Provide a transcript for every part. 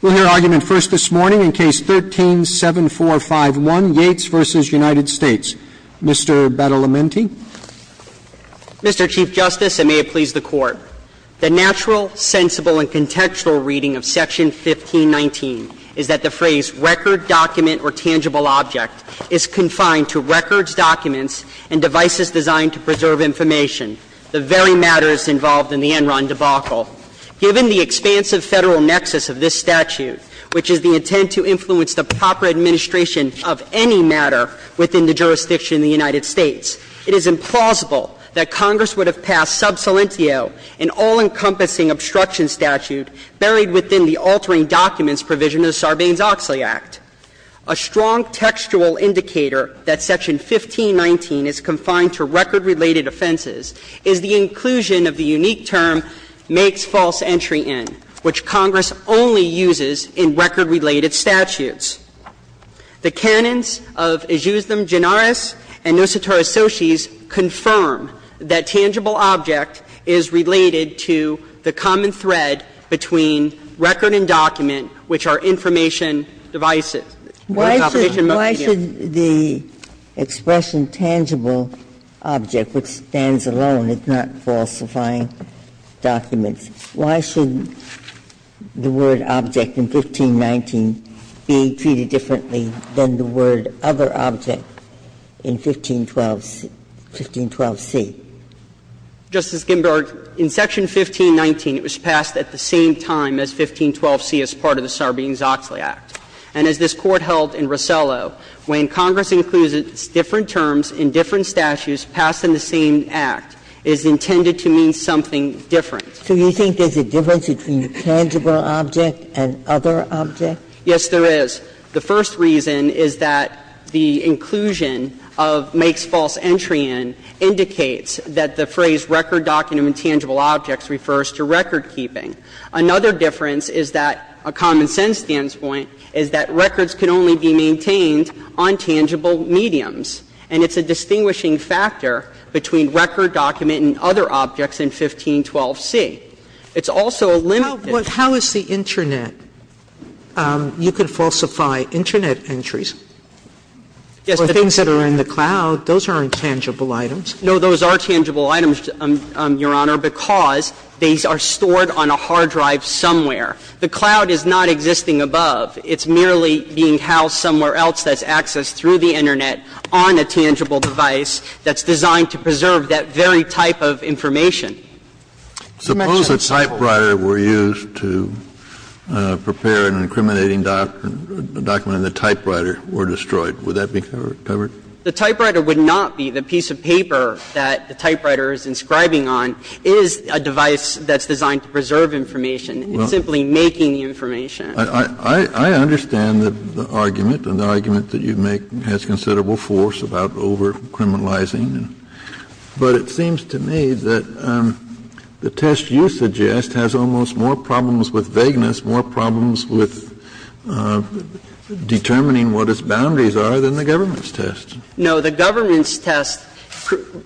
We'll hear argument first this morning in Case 13-7451, Yates v. United States. Mr. Battalamenti? Mr. Chief Justice, and may it please the Court, the natural, sensible, and contextual reading of Section 1519 is that the phrase record, document, or tangible object is confined to records, documents, and devices designed to preserve information, the very matters involved in the Enron debacle. Given the expansive Federal nexus of this statute, which is the intent to influence the proper administration of any matter within the jurisdiction of the United States, it is implausible that Congress would have passed sub salientio, an all-encompassing obstruction statute buried within the altering documents provision of the Sarbanes-Oxley Act. A strong textual indicator that Section 1519 is confined to record-related offenses is the inclusion of the unique term, makes false entry in, which Congress only uses in record-related statutes. The canons of Ejusdem Gennaris and Nosotros Sotis confirm that tangible object is related to the common thread between record and document, which are information, devices. Ginsburg, why should the expression tangible object, which stands alone, is not falsifying documents, why should the word object in 1519 be treated differently than the word other object in 1512c? Justice Ginsburg, in Section 1519, it was passed at the same time as 1512c as part of the Sarbanes-Oxley Act. And as this Court held in Rosello, when Congress includes its different terms in different statutes passed in the same act, it is intended to mean something different. So you think there's a difference between tangible object and other object? Yes, there is. The first reason is that the inclusion of makes false entry in indicates that the phrase record, document, and tangible objects refers to record-keeping. Another difference is that a common-sense standpoint is that records can only be maintained on tangible mediums. And it's a distinguishing factor between record, document, and other objects in 1512c. It's also a limited How is the Internet? You could falsify Internet entries. Yes, but the things that are in the cloud, those aren't tangible items. No, those are tangible items, Your Honor, because these are stored on a hard drive somewhere. The cloud is not existing above. It's merely being housed somewhere else that's accessed through the Internet on a tangible device that's designed to preserve that very type of information. Suppose a typewriter were used to prepare an incriminating document and the typewriter were destroyed. Would that be covered? The typewriter would not be. The piece of paper that the typewriter is inscribing on is a device that's designed to preserve information. It's simply making the information. I understand the argument, and the argument that you make has considerable force about over-criminalizing. But it seems to me that the test you suggest has almost more problems with vagueness, more problems with determining what its boundaries are than the government's test. No, the government's test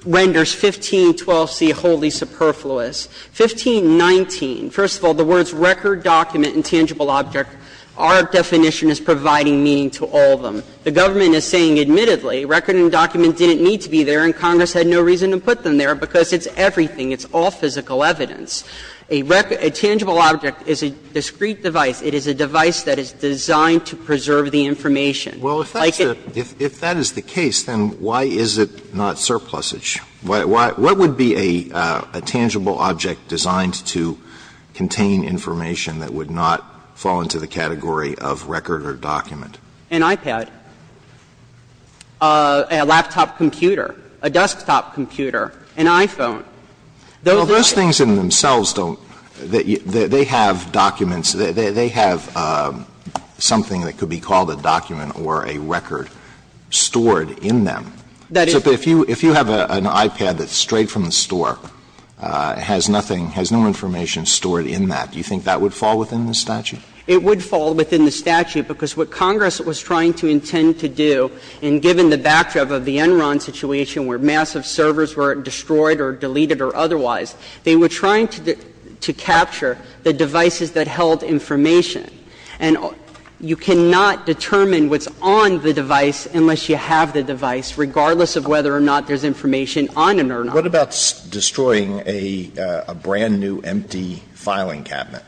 renders 1512c wholly superfluous. 1519, first of all, the words record, document, and tangible object, our definition is providing meaning to all of them. The government is saying, admittedly, record and document didn't need to be there and Congress had no reason to put them there because it's everything. It's all physical evidence. A tangible object is a discrete device. It is a device that is designed to preserve the information. Alito, if that is the case, then why is it not surplusage? What would be a tangible object designed to contain information that would not fall into the category of record or document? An iPad, a laptop computer, a desktop computer, an iPhone. Those are the things. Alito, those things in themselves don't they have documents, they have something that could be called a document or a record stored in them. That if you have an iPad that's straight from the store, it has nothing, has no information stored in that. Do you think that would fall within the statute? It would fall within the statute because what Congress was trying to intend to do, and given the backdrop of the Enron situation where massive servers were destroyed or deleted or otherwise, they were trying to capture the devices that held information. And you cannot determine what's on the device unless you have the device, regardless of whether or not there's information on it or not. What about destroying a brand-new empty filing cabinet?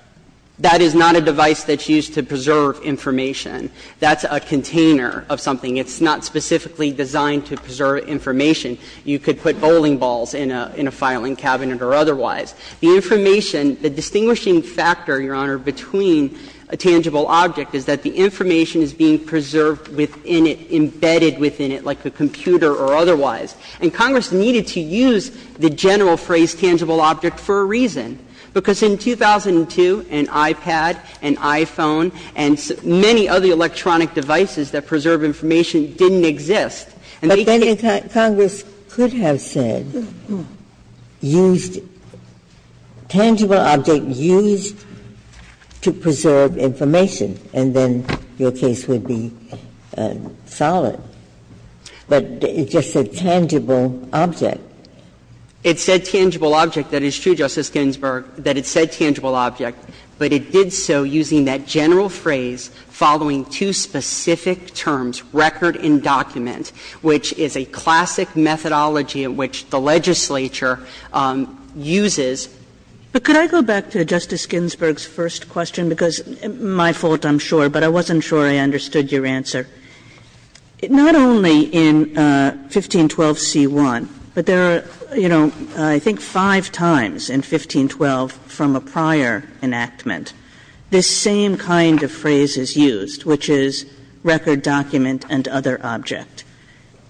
That is not a device that's used to preserve information. That's a container of something. It's not specifically designed to preserve information. You could put bowling balls in a filing cabinet or otherwise. The information, the distinguishing factor, Your Honor, between a tangible object is that the information is being preserved within it, embedded within it like a computer or otherwise. And Congress needed to use the general phrase tangible object for a reason, because in 2002, an iPad, an iPhone, and many other electronic devices that preserve information didn't exist. Ginsburg-Ginzburg But then Congress could have said, used, tangible object used to preserve information, and then your case would be solid. But it just said tangible object. It said tangible object. That is true, Justice Ginsburg, that it said tangible object, but it did so using that general phrase following two specific terms, record and document, which is a classic methodology in which the legislature uses. Kagan But could I go back to Justice Ginsburg's first question, because it's my fault, I'm sure, but I wasn't sure I understood your answer. Not only in 1512c1, but there are, you know, I think five times in 1512 from a prior enactment, this same kind of phrase is used, which is record, document, and other object.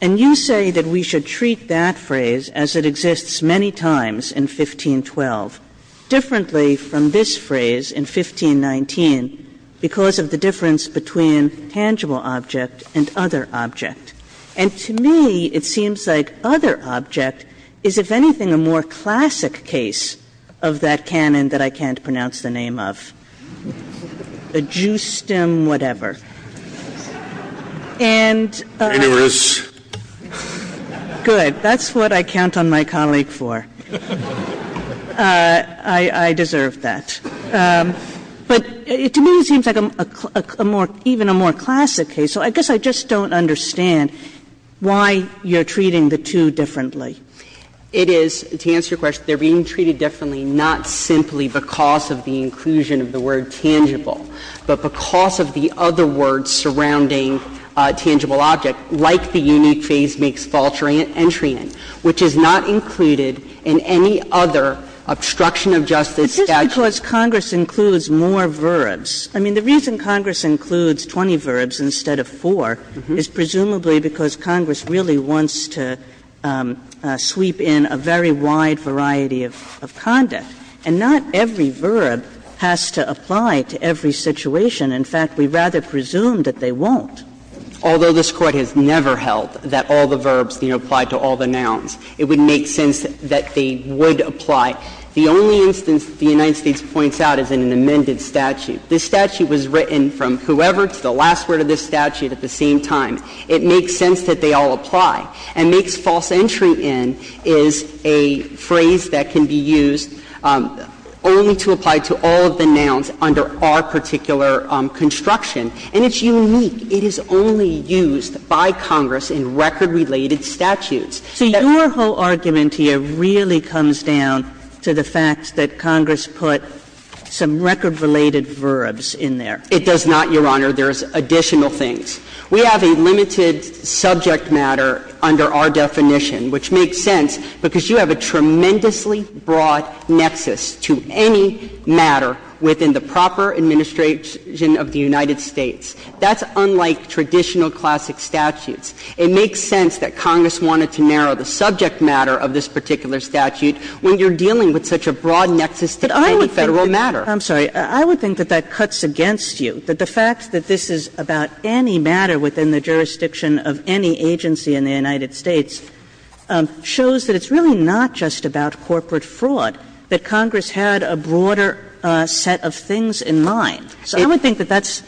And you say that we should treat that phrase as it exists many times in 1512, differently from this phrase in 1519, because of the difference between tangible object and other object. And to me, it seems like other object is, if anything, a more classic case of that canon that I can't pronounce the name of, the Ju-STEM whatever. And that's what I count on my colleague for. I deserve that. But to me, it seems like a more, even a more classic case. So I guess I just don't understand why you're treating the two differently. It is, to answer your question, they're being treated differently not simply because of the inclusion of the word tangible, but because of the other words surrounding tangible object, like the unique phase makes vulture entry in, which is not included in any other obstruction of justice statute. Kagan But just because Congress includes more verbs. I mean, the reason Congress includes 20 verbs instead of four is presumably because Congress really wants to sweep in a very wide variety of conduct. And not every verb has to apply to every situation. In fact, we rather presume that they won't. Although this Court has never held that all the verbs, you know, apply to all the situations that they would apply. The only instance that the United States points out is in an amended statute. This statute was written from whoever to the last word of this statute at the same time. It makes sense that they all apply. And makes false entry in is a phrase that can be used only to apply to all of the nouns under our particular construction, and it's unique. It is only used by Congress in record-related statutes. Kagan So your whole argument here really comes down to the fact that Congress put some record-related verbs in there. It does not, Your Honor. There's additional things. We have a limited subject matter under our definition, which makes sense because you have a tremendously broad nexus to any matter within the proper administration of the United States. That's unlike traditional classic statutes. It makes sense that Congress wanted to narrow the subject matter of this particular statute when you're dealing with such a broad nexus to any Federal matter. Kagan I'm sorry. I would think that that cuts against you, that the fact that this is about any matter within the jurisdiction of any agency in the United States shows that it's really not just about corporate fraud, that Congress had a broader set of things in mind. So I would think that that's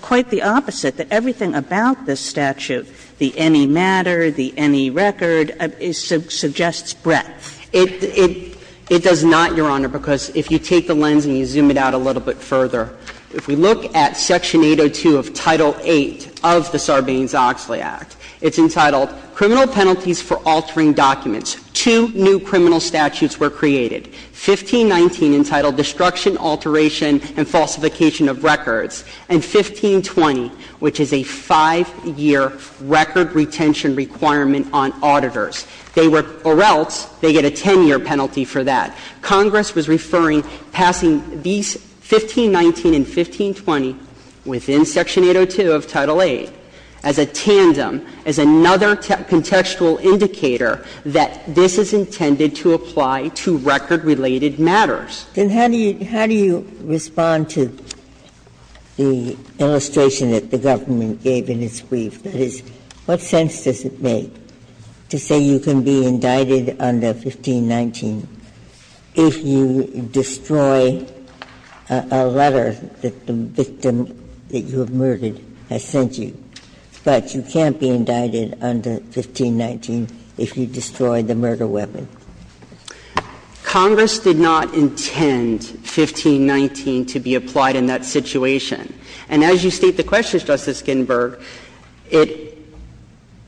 quite the opposite, that everything about this statute, the any matter, the any record, suggests breadth. Kagan It does not, Your Honor, because if you take the lens and you zoom it out a little bit further, if we look at Section 802 of Title VIII of the Sarbanes-Oxley Act, it's entitled Criminal Penalties for Altering Documents. Two new criminal statutes were created, 1519 entitled Destruction, Alteration, and Falsification of Records, and 1520, which is a 5-year record retention requirement on auditors. They were or else they get a 10-year penalty for that. Congress was referring passing these 1519 and 1520 within Section 802 of Title VIII as a tandem, as another contextual indicator that this is intended to apply to record related matters. Ginsburg Then how do you respond to the illustration that the government gave in its brief? That is, what sense does it make to say you can be indicted under 1519 if you destroy a letter that the victim that you have murdered has sent you, but you can't be indicted under 1519 if you destroy the murder weapon? Congress did not intend 1519 to be applied in that situation. And as you state the questions, Justice Ginsburg, it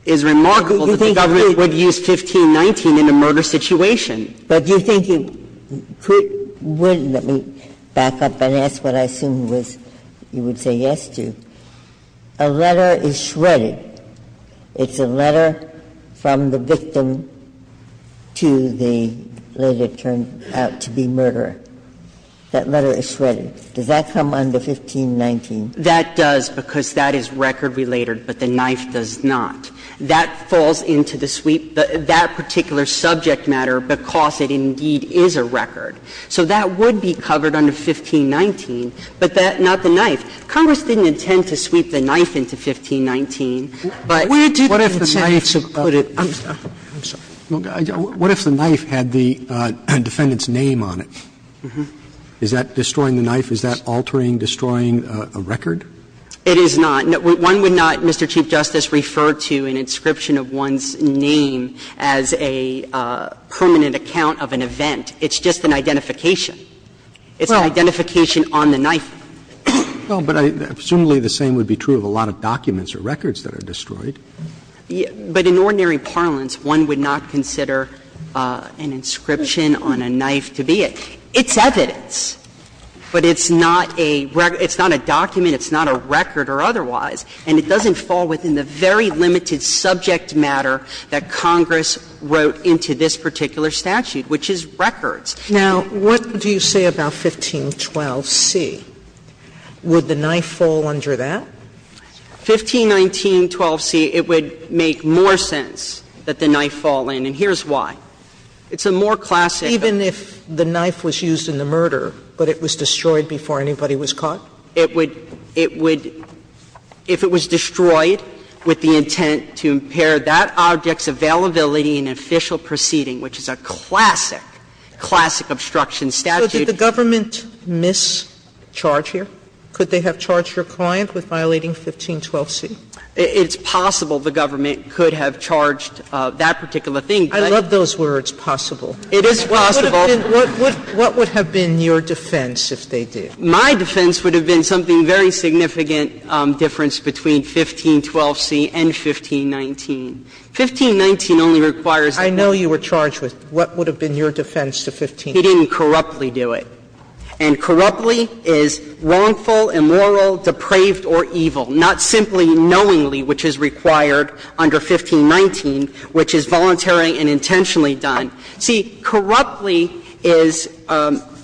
is remarkable that the government would use 1519 in a murder situation. Ginsburg But do you think you could win – let me back up and ask what I assume was you would say yes to. A letter is shredded. It's a letter from the victim to the lady that turned out to be murderer. That letter is shredded. Does that come under 1519? That does because that is record related, but the knife does not. That falls into the sweep, that particular subject matter, because it indeed is a record. So that would be covered under 1519, but that – not the knife. Congress didn't intend to sweep the knife into 1519, but – Roberts What if the knife had the defendant's name on it? Is that destroying the knife? Is that altering, destroying a record? It is not. One would not, Mr. Chief Justice, refer to an inscription of one's name as a permanent account of an event. It's just an identification. It's an identification on the knife. Well, but I – presumably the same would be true of a lot of documents or records that are destroyed. But in ordinary parlance, one would not consider an inscription on a knife to be it. It's evidence, but it's not a – it's not a document, it's not a record or otherwise. And it doesn't fall within the very limited subject matter that Congress wrote into this particular statute, which is records. Now, what do you say about 1512c? Would the knife fall under that? 151912c, it would make more sense that the knife fall in, and here's why. It's a more classic – Even if the knife was used in the murder, but it was destroyed before anybody was caught? It would – it would – if it was destroyed with the intent to impair that object's availability in official proceeding, which is a classic, classic obstruction statute. So did the government mischarge here? Could they have charged your client with violating 1512c? It's possible the government could have charged that particular thing. I love those words, possible. It is possible. What would have been your defense if they did? My defense would have been something very significant difference between 1512c and 1519. 1519 only requires a knife. I know you were charged with what would have been your defense to 1519. He didn't corruptly do it. And corruptly is wrongful, immoral, depraved, or evil, not simply knowingly, which is required under 1519, which is voluntary and intentionally done. See, corruptly is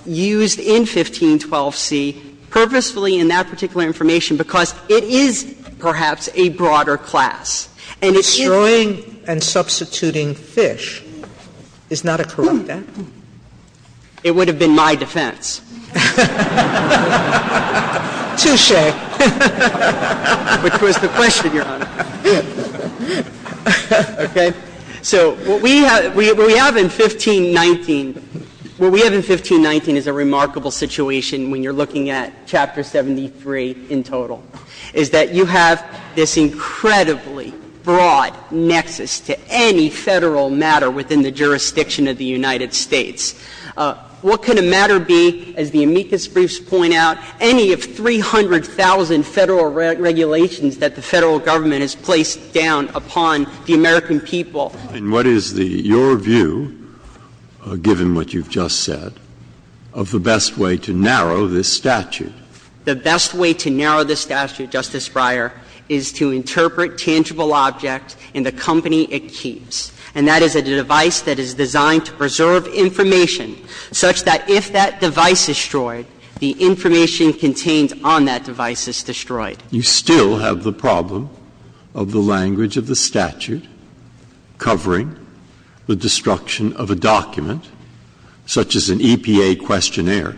used in 1512c purposefully in that particular information because it is perhaps a broader class. And it is – Destroying and substituting fish is not a corrupt act? It would have been my defense. Touche. Which was the question, Your Honor. Okay. So what we have in 1519, what we have in 1519 is a remarkable situation when you're looking at Chapter 73 in total, is that you have this incredibly broad nexus to any Federal matter within the jurisdiction of the United States. What can a matter be, as the amicus briefs point out, any of 300,000 Federal regulations that the Federal Government has placed down upon the American people? And what is the – your view, given what you've just said, of the best way to narrow this statute? The best way to narrow the statute, Justice Breyer, is to interpret tangible objects in the company it keeps. And that is a device that is designed to preserve information such that if that device is destroyed, the information contained on that device is destroyed. You still have the problem of the language of the statute covering the destruction of a document, such as an EPA questionnaire,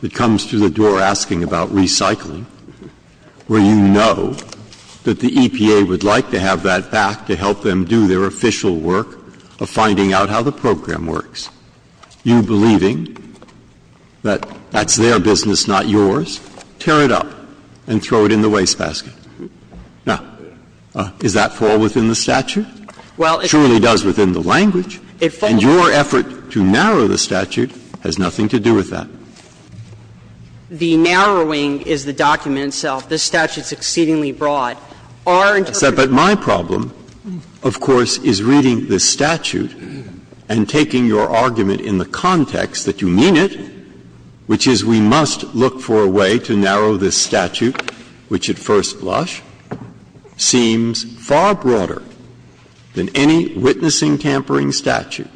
that comes to the door asking about recycling, where you know that the EPA would like to have that back to help them do their official work of finding out how the program works. You believing that that's their business, not yours, tear it up and throw it in the wastebasket. Now, does that fall within the statute? It truly does within the language. And your effort to narrow the statute has nothing to do with that. The narrowing is the document itself. This statute is exceedingly broad. Our interpretation is that the document itself is exceedingly broad. But my problem, of course, is reading this statute and taking your argument in the context that you mean it, which is we must look for a way to narrow this statute, which at first blush seems far broader than any witnessing tampering statute,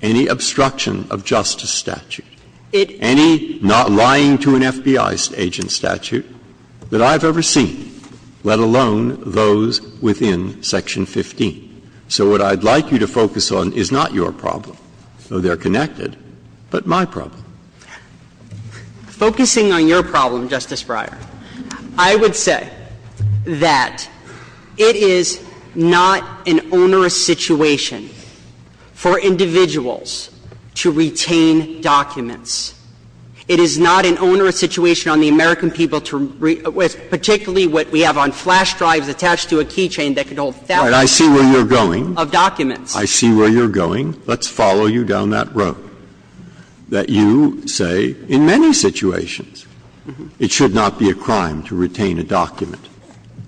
any obstruction of justice statute, any not lying to an FBI agent statute that I've ever seen, let alone those within Section 15. So what I'd like you to focus on is not your problem, though they're connected, but my problem. Focusing on your problem, Justice Breyer, I would say that it is not an onerous situation for individuals to retain documents. It is not an onerous situation on the American people to read, particularly what we have on flash drives attached to a key chain that could hold thousands of documents. Breyer. I see where you're going. Let's follow you down that road, that you say in many situations it should not be a crime to retain a document,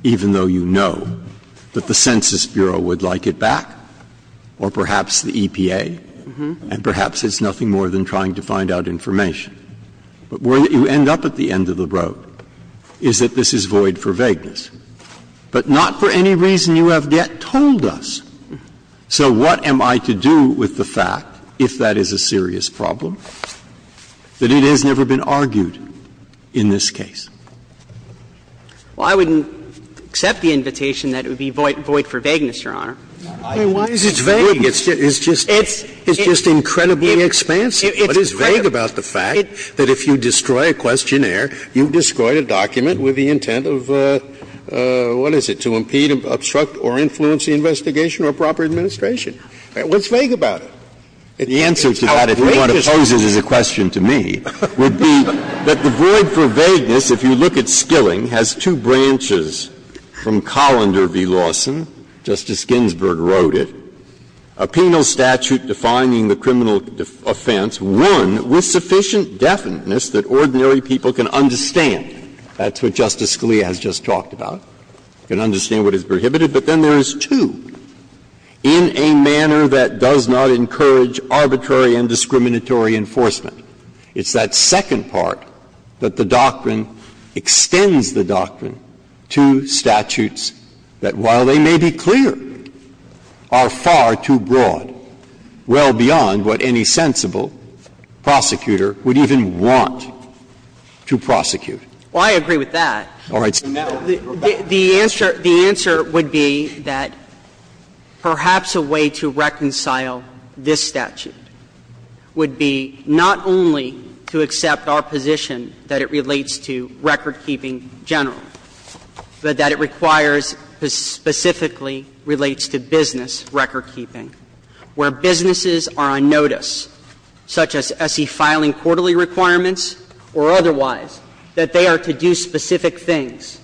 even though you know that the Census Bureau would like it back. Or perhaps the EPA, and perhaps it's nothing more than trying to find out information. But where you end up at the end of the road is that this is void for vagueness, but not for any reason you have yet told us. So what am I to do with the fact, if that is a serious problem, that it has never been argued in this case? Well, I wouldn't accept the invitation that it would be void for vagueness, Your Honor. Why is it vague? It's just incredibly expansive. What is vague about the fact that if you destroy a questionnaire, you've destroyed a document with the intent of, what is it, to impede, obstruct, or influence the investigation or proper administration? What's vague about it? The answer to that, if you want to pose it as a question to me, would be that the void for vagueness, if you look at Skilling, has two branches from Colander v. Lawson, Justice Ginsburg wrote it, a penal statute defining the criminal offense, one with sufficient definiteness that ordinary people can understand. That's what Justice Scalia has just talked about, can understand what is prohibited. But then there is two, in a manner that does not encourage arbitrary and discriminatory enforcement. It's that second part that the doctrine extends the doctrine to statutes that, while they may be clear, are far too broad, well beyond what any sensible prosecutor would even want to prosecute. Well, I agree with that. All right. The answer would be that perhaps a way to reconcile this statute would be not only to accept our position that it relates to recordkeeping generally, but that it requires that it specifically relates to business recordkeeping, where businesses are on notice, such as S.E. filing quarterly requirements or otherwise, that they are to do specific things.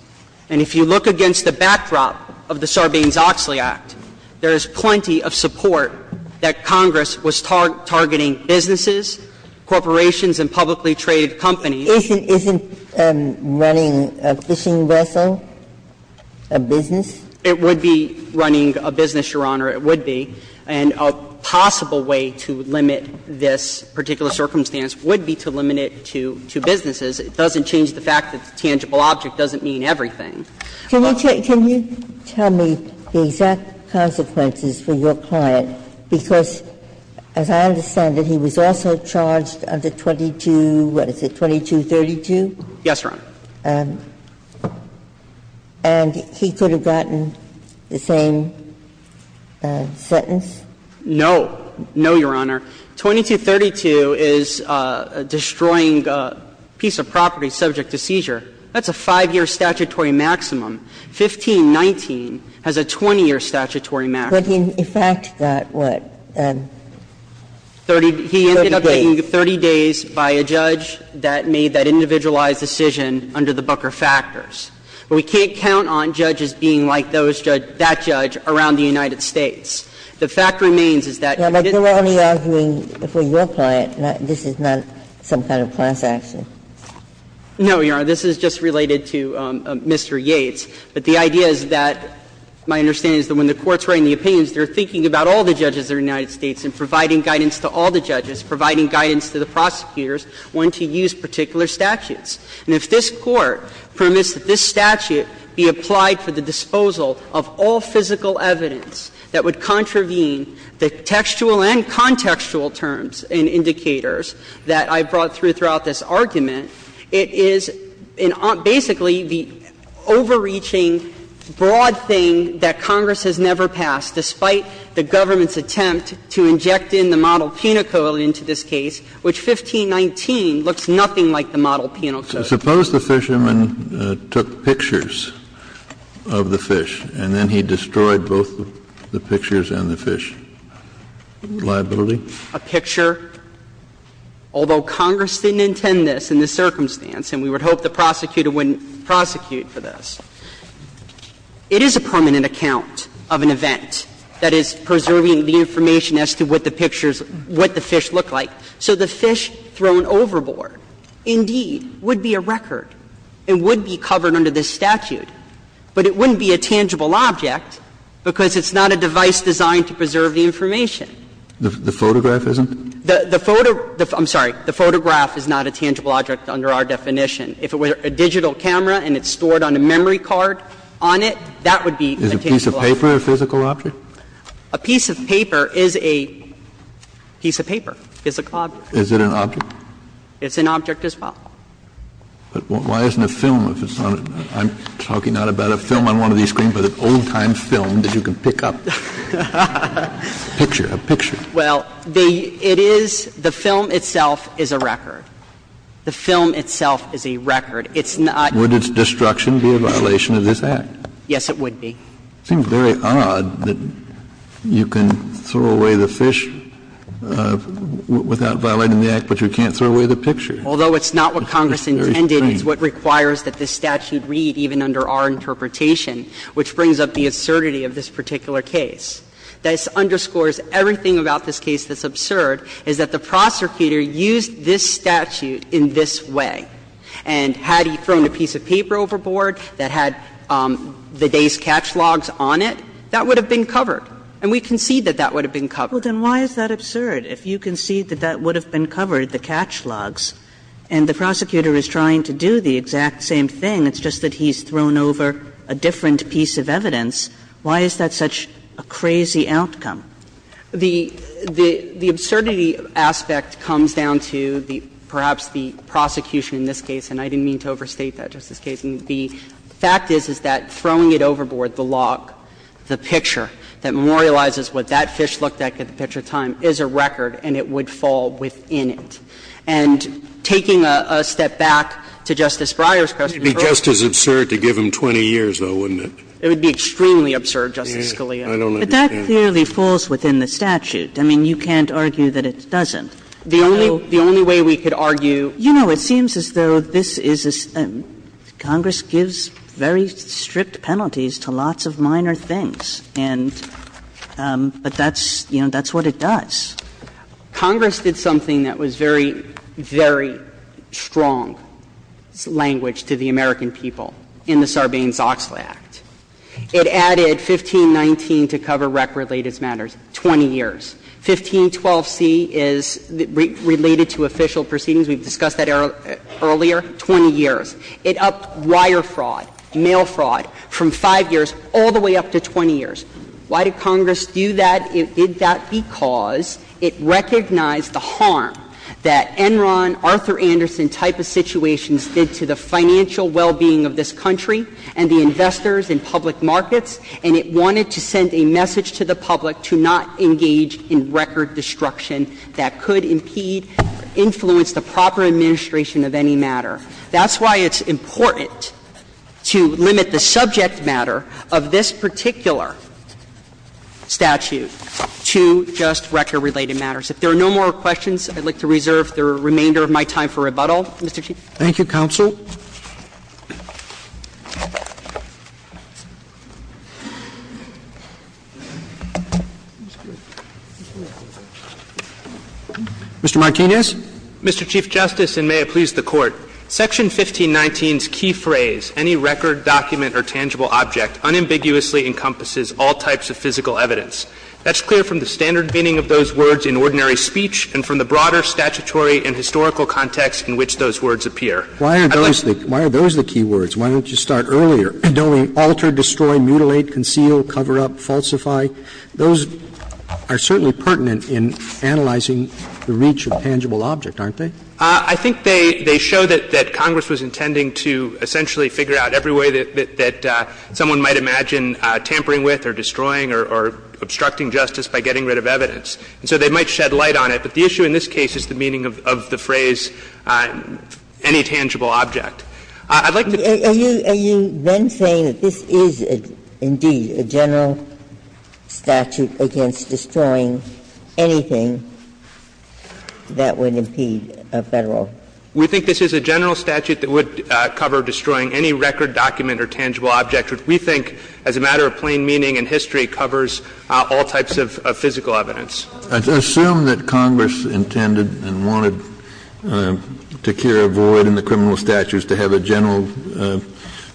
And if you look against the backdrop of the Sarbanes-Oxley Act, there is plenty of support that Congress was targeting businesses, corporations, and publicly traded companies. Ginsburg-Miller Isn't running a fishing vessel a business? It would be running a business, Your Honor, it would be. And a possible way to limit this particular circumstance would be to limit it to businesses. It doesn't change the fact that the tangible object doesn't mean everything. Can you tell me the exact consequences for your client, because as I understand it, he was also charged under 22, what is it, 2232? Yes, Your Honor. And he could have gotten the same sentence? No. No, Your Honor. 2232 is destroying a piece of property subject to seizure. That's a 5-year statutory maximum. 1519 has a 20-year statutory maximum. But in fact, that what? 30 days. He ended up taking 30 days by a judge that made that individualized decision under the Booker factors. But we can't count on judges being like that judge around the United States. The fact remains is that if it didn't change the fact that he was charged, he was charged under 2232. Now, but you are only arguing for your client, this is not some kind of class action. No, Your Honor. This is just related to Mr. Yates. But the idea is that, my understanding is that when the Court's writing the opinions, they are thinking about all the judges of the United States and providing guidance to all the judges, providing guidance to the prosecutors when to use particular statutes. And if this Court permits that this statute be applied for the disposal of all physical evidence that would contravene the textual and contextual terms and indicators that I brought through throughout this argument, it is basically the overreaching broad thing that Congress has never passed, despite the government's attempt to inject in the model penal code into this case, which 1519 looks nothing like the model penal code. Kennedy, suppose the fisherman took pictures of the fish, and then he destroyed both the pictures and the fish. Liability? A picture, although Congress didn't intend this in this circumstance, and we would hope the prosecutor wouldn't prosecute for this, it is a permanent account of an event that is preserving the information as to what the pictures, what the fish look like. So the fish thrown overboard, indeed, would be a record and would be covered under this statute, but it wouldn't be a tangible object because it's not a device designed to preserve the information. The photograph isn't? The photo – I'm sorry. The photograph is not a tangible object under our definition. If it were a digital camera and it's stored on a memory card on it, that would be a tangible object. Is a piece of paper a physical object? A piece of paper is a piece of paper, physical object. Is it an object? It's an object as well. But why isn't a film if it's on it? I'm talking not about a film on one of these screens, but an old-time film that you can pick up. A picture, a picture. Well, it is – the film itself is a record. The film itself is a record. It's not – Would its destruction be a violation of this Act? Yes, it would be. It seems very odd that you can throw away the fish without violating the Act, but you can't throw away the picture. Although it's not what Congress intended, it's what requires that this statute read even under our interpretation, which brings up the assertivity of this particular case. This underscores everything about this case that's absurd, is that the prosecutor used this statute in this way. And had he thrown a piece of paper overboard that had the day's catch logs on it, that would have been covered. And we concede that that would have been covered. Well, then why is that absurd? If you concede that that would have been covered, the catch logs, and the prosecutor is trying to do the exact same thing, it's just that he's thrown over a different piece of evidence, why is that such a crazy outcome? The absurdity aspect comes down to perhaps the prosecution in this case, and I didn't mean to overstate that, Justice Kagan. The fact is, is that throwing it overboard, the log, the picture that memorializes what that fish looked like at the picture time is a record, and it would fall within it. And taking a step back to Justice Breyer's question, it would be just as absurd to give him 20 years, though, wouldn't it? It would be extremely absurd, Justice Scalia. But that clearly falls within the statute. I mean, you can't argue that it doesn't. So the only way we could argue. You know, it seems as though this is a – Congress gives very strict penalties to lots of minor things, and – but that's, you know, that's what it does. Congress did something that was very, very strong language to the American people in the Sarbanes-Oxley Act. It added 1519 to cover record-related matters, 20 years. 1512c is related to official proceedings. We've discussed that earlier, 20 years. It upped wire fraud, mail fraud, from 5 years all the way up to 20 years. Why did Congress do that? It did that because it recognized the harm that Enron, Arthur Anderson type of situations did to the financial well-being of this country and the investors in public markets, and it wanted to send a message to the public to not engage in record destruction that could impede, influence the proper administration of any matter. That's why it's important to limit the subject matter of this particular statute to just record-related matters. If there are no more questions, I'd like to reserve the remainder of my time for rebuttal. Mr. Chief. Thank you, counsel. Mr. Martinez. Mr. Chief Justice, and may it please the Court. Section 1519's key phrase, any record, document, or tangible object, unambiguously encompasses all types of physical evidence. That's clear from the standard meaning of those words in ordinary speech and from the broader statutory and historical context in which those words appear. Why are those the key words? Why don't you start earlier? Don't we alter, destroy, mutilate, conceal, cover up, falsify? Those are certainly pertinent in analyzing the reach of tangible object, aren't they? I think they show that Congress was intending to essentially figure out every way that someone might imagine tampering with or destroying or obstructing justice by getting rid of evidence. And so they might shed light on it, but the issue in this case is the meaning of the phrase, any tangible object. I'd like to just say that this is, indeed, a general statute against destroying anything that would impede a Federal. We think this is a general statute that would cover destroying any record, document, or tangible object, which we think, as a matter of plain meaning in history, covers all types of physical evidence. Kennedy, I assume that Congress intended and wanted to clear a void in the criminal statutes to have a general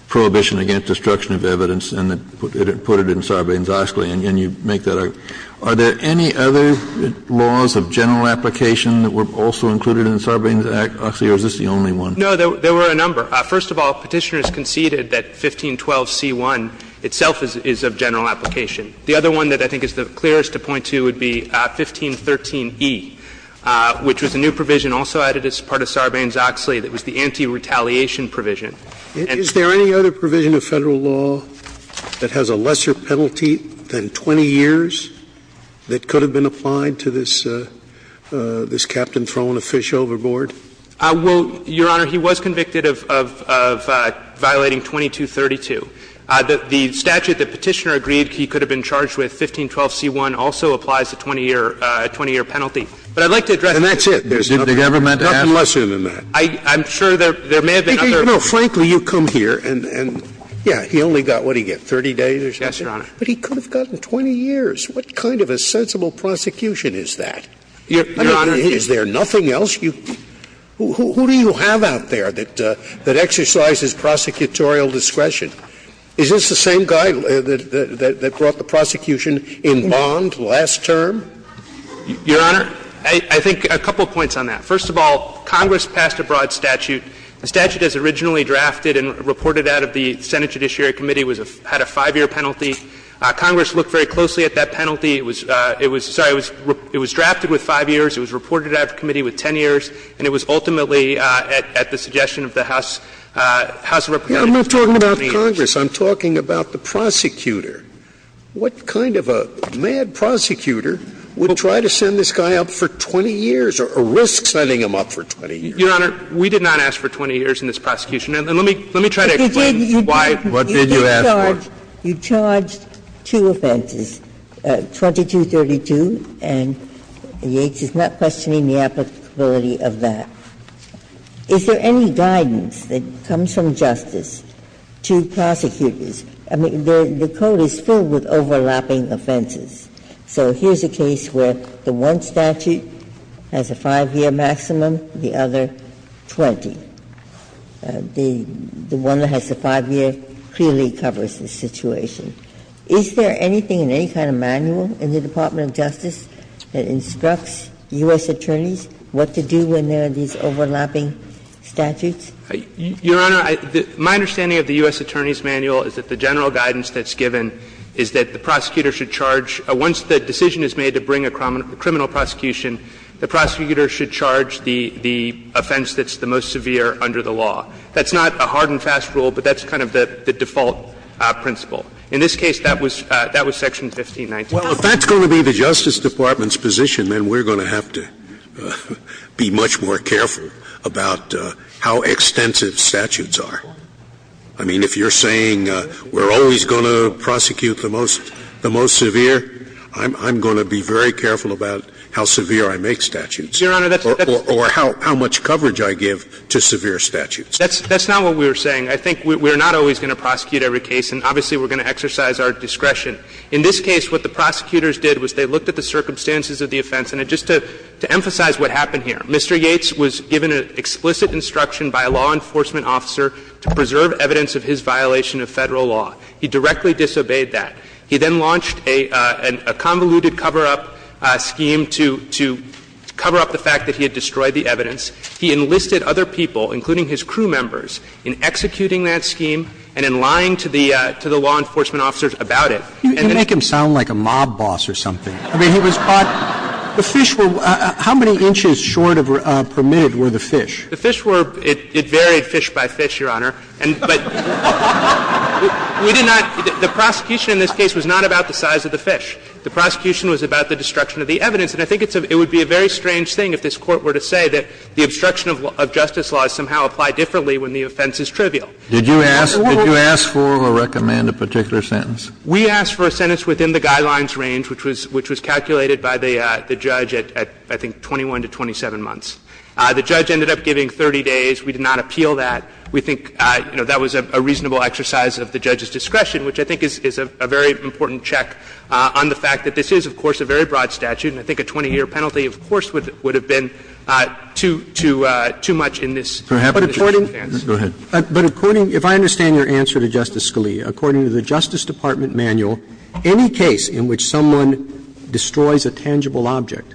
prohibition against destruction of evidence and put it in Sarbanes-Oscley, and you make that argument. Are there any other laws of general application that were also included in Sarbanes-Oscley, or is this the only one? No, there were a number. First of all, Petitioner has conceded that 1512c1 itself is of general application. The other one that I think is the clearest to point to would be 1513e, which was a new provision also added as part of Sarbanes-Oscley that was the anti-retaliation provision. Is there any other provision of Federal law that has a lesser penalty than 20 years that could have been applied to this captain throwing a fish overboard? Well, Your Honor, he was convicted of violating 2232. The statute that Petitioner agreed he could have been charged with, 1512c1, also applies a 20-year penalty. But I'd like to address that. And that's it? There's nothing lesser than that? I'm sure there may have been other provisions. You know, frankly, you come here and, yeah, he only got, what did he get, 30 days or something? Yes, Your Honor. But he could have gotten 20 years. What kind of a sensible prosecution is that? I mean, is there nothing else? Who do you have out there that exercises prosecutorial discretion? Is this the same guy that brought the prosecution in bond last term? Your Honor, I think a couple points on that. First of all, Congress passed a broad statute. The statute is originally drafted and reported out of the Senate Judiciary Committee, had a 5-year penalty. Congress looked very closely at that penalty. It was drafted with 5 years. It was reported out of the committee with 10 years. And it was ultimately at the suggestion of the House of Representatives that it should be 20 years. But I'm not talking about Congress. I'm talking about the prosecutor. What kind of a mad prosecutor would try to send this guy up for 20 years, or risk sending him up for 20 years? Your Honor, we did not ask for 20 years in this prosecution. And let me try to explain why. What did you ask for? You did charge two offenses, 2232, and Yates is not questioning the applicability of that. Is there any guidance that comes from justice to prosecutors? I mean, the code is filled with overlapping offenses. So here's a case where the one statute has a 5-year maximum, the other 20. The one that has the 5-year clearly covers the situation. Is there anything in any kind of manual in the Department of Justice that instructs U.S. attorneys what to do when there are these overlapping statutes? Your Honor, my understanding of the U.S. Attorney's Manual is that the general guidance that's given is that the prosecutor should charge, once the decision is made to bring a criminal prosecution, the prosecutor should charge the offense that's the most severe under the law. That's not a hard and fast rule, but that's kind of the default principle. In this case, that was Section 1519. Well, if that's going to be the Justice Department's position, then we're going to have to be much more careful about how extensive statutes are. I mean, if you're saying we're always going to prosecute the most severe, I'm going to be very careful about how severe I make statutes or how much coverage I give to severe statutes. That's not what we were saying. I think we're not always going to prosecute every case, and obviously we're going to exercise our discretion. In this case, what the prosecutors did was they looked at the circumstances of the offense. And just to emphasize what happened here, Mr. Yates was given an explicit instruction by a law enforcement officer to preserve evidence of his violation of Federal law. He directly disobeyed that. He then launched a convoluted cover-up scheme to cover up the fact that he had destroyed the evidence. He enlisted other people, including his crew members, in executing that scheme and in lying to the law enforcement officers about it. You make him sound like a mob boss or something. I mean, he was caught — the fish were — how many inches short of permitted were the fish? The fish were — it varied fish by fish, Your Honor. And — but we did not — the prosecution in this case was not about the size of the fish. The prosecution was about the destruction of the evidence. And I think it's a — it would be a very strange thing if this Court were to say that the obstruction of justice laws somehow apply differently when the offense is trivial. Did you ask — did you ask for or recommend a particular sentence? We asked for a sentence within the guidelines range, which was calculated by the judge at, I think, 21 to 27 months. The judge ended up giving 30 days. We did not appeal that. We think, you know, that was a reasonable exercise of the judge's discretion, which I think is a very important check on the fact that this is, of course, a very broad statute. And I think a 20-year penalty, of course, would have been too much in this case. But according — Go ahead. But according — if I understand your answer to Justice Scalia, according to the Justice Department manual, any case in which someone destroys a tangible object,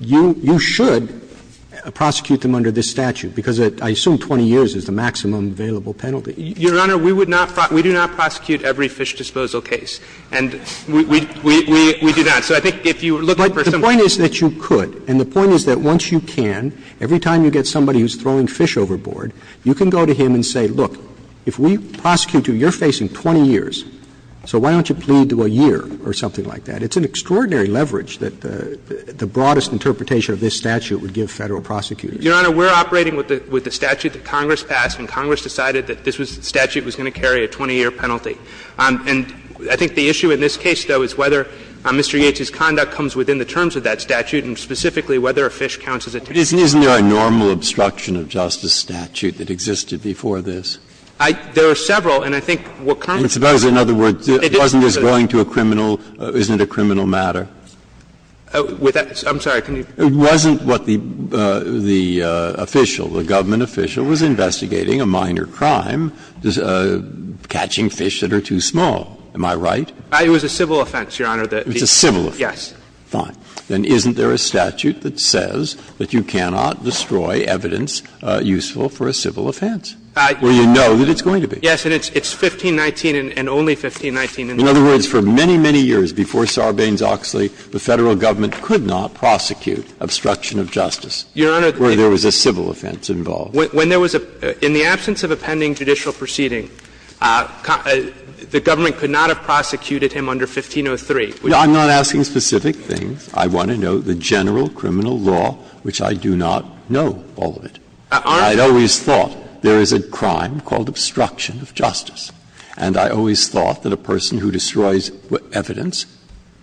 you should prosecute them under this statute, because I assume 20 years is the maximum available penalty. Your Honor, we would not — we do not prosecute every fish disposal case. And we do not. So I think if you were looking for some — But the point is that you could. And the point is that once you can, every time you get somebody who's throwing fish overboard, you can go to him and say, look, if we prosecute you, you're facing 20 years, so why don't you plead to a year or something like that? It's an extraordinary leverage that the broadest interpretation of this statute would give Federal prosecutors. Your Honor, we're operating with the statute that Congress passed, and Congress decided that this statute was going to carry a 20-year penalty. And I think the issue in this case, though, is whether Mr. Yates's conduct comes within the terms of that statute, and specifically whether a fish counts as a tangible object. But isn't there a normal obstruction of justice statute that existed before this? There are several, and I think what Congress did was to say that it's not a criminal matter. And suppose, in other words, wasn't this going to a criminal — isn't it a criminal matter? I'm sorry. It wasn't what the official, the government official, was investigating, a minor crime, catching fish that are too small. Am I right? It was a civil offense, Your Honor. It was a civil offense. Yes. Fine. Then isn't there a statute that says that you cannot destroy evidence useful for a civil offense? Well, you know that it's going to be. Yes. And it's 1519 and only 1519. In other words, for many, many years before Sarbanes-Oxley, the Federal government could not prosecute obstruction of justice where there was a civil offense involved. When there was a — in the absence of a pending judicial proceeding, the government could not have prosecuted him under 1503. I'm not asking specific things. I want to know the general criminal law, which I do not know all of it. I always thought there is a crime called obstruction of justice, and I always thought that a person who destroys evidence,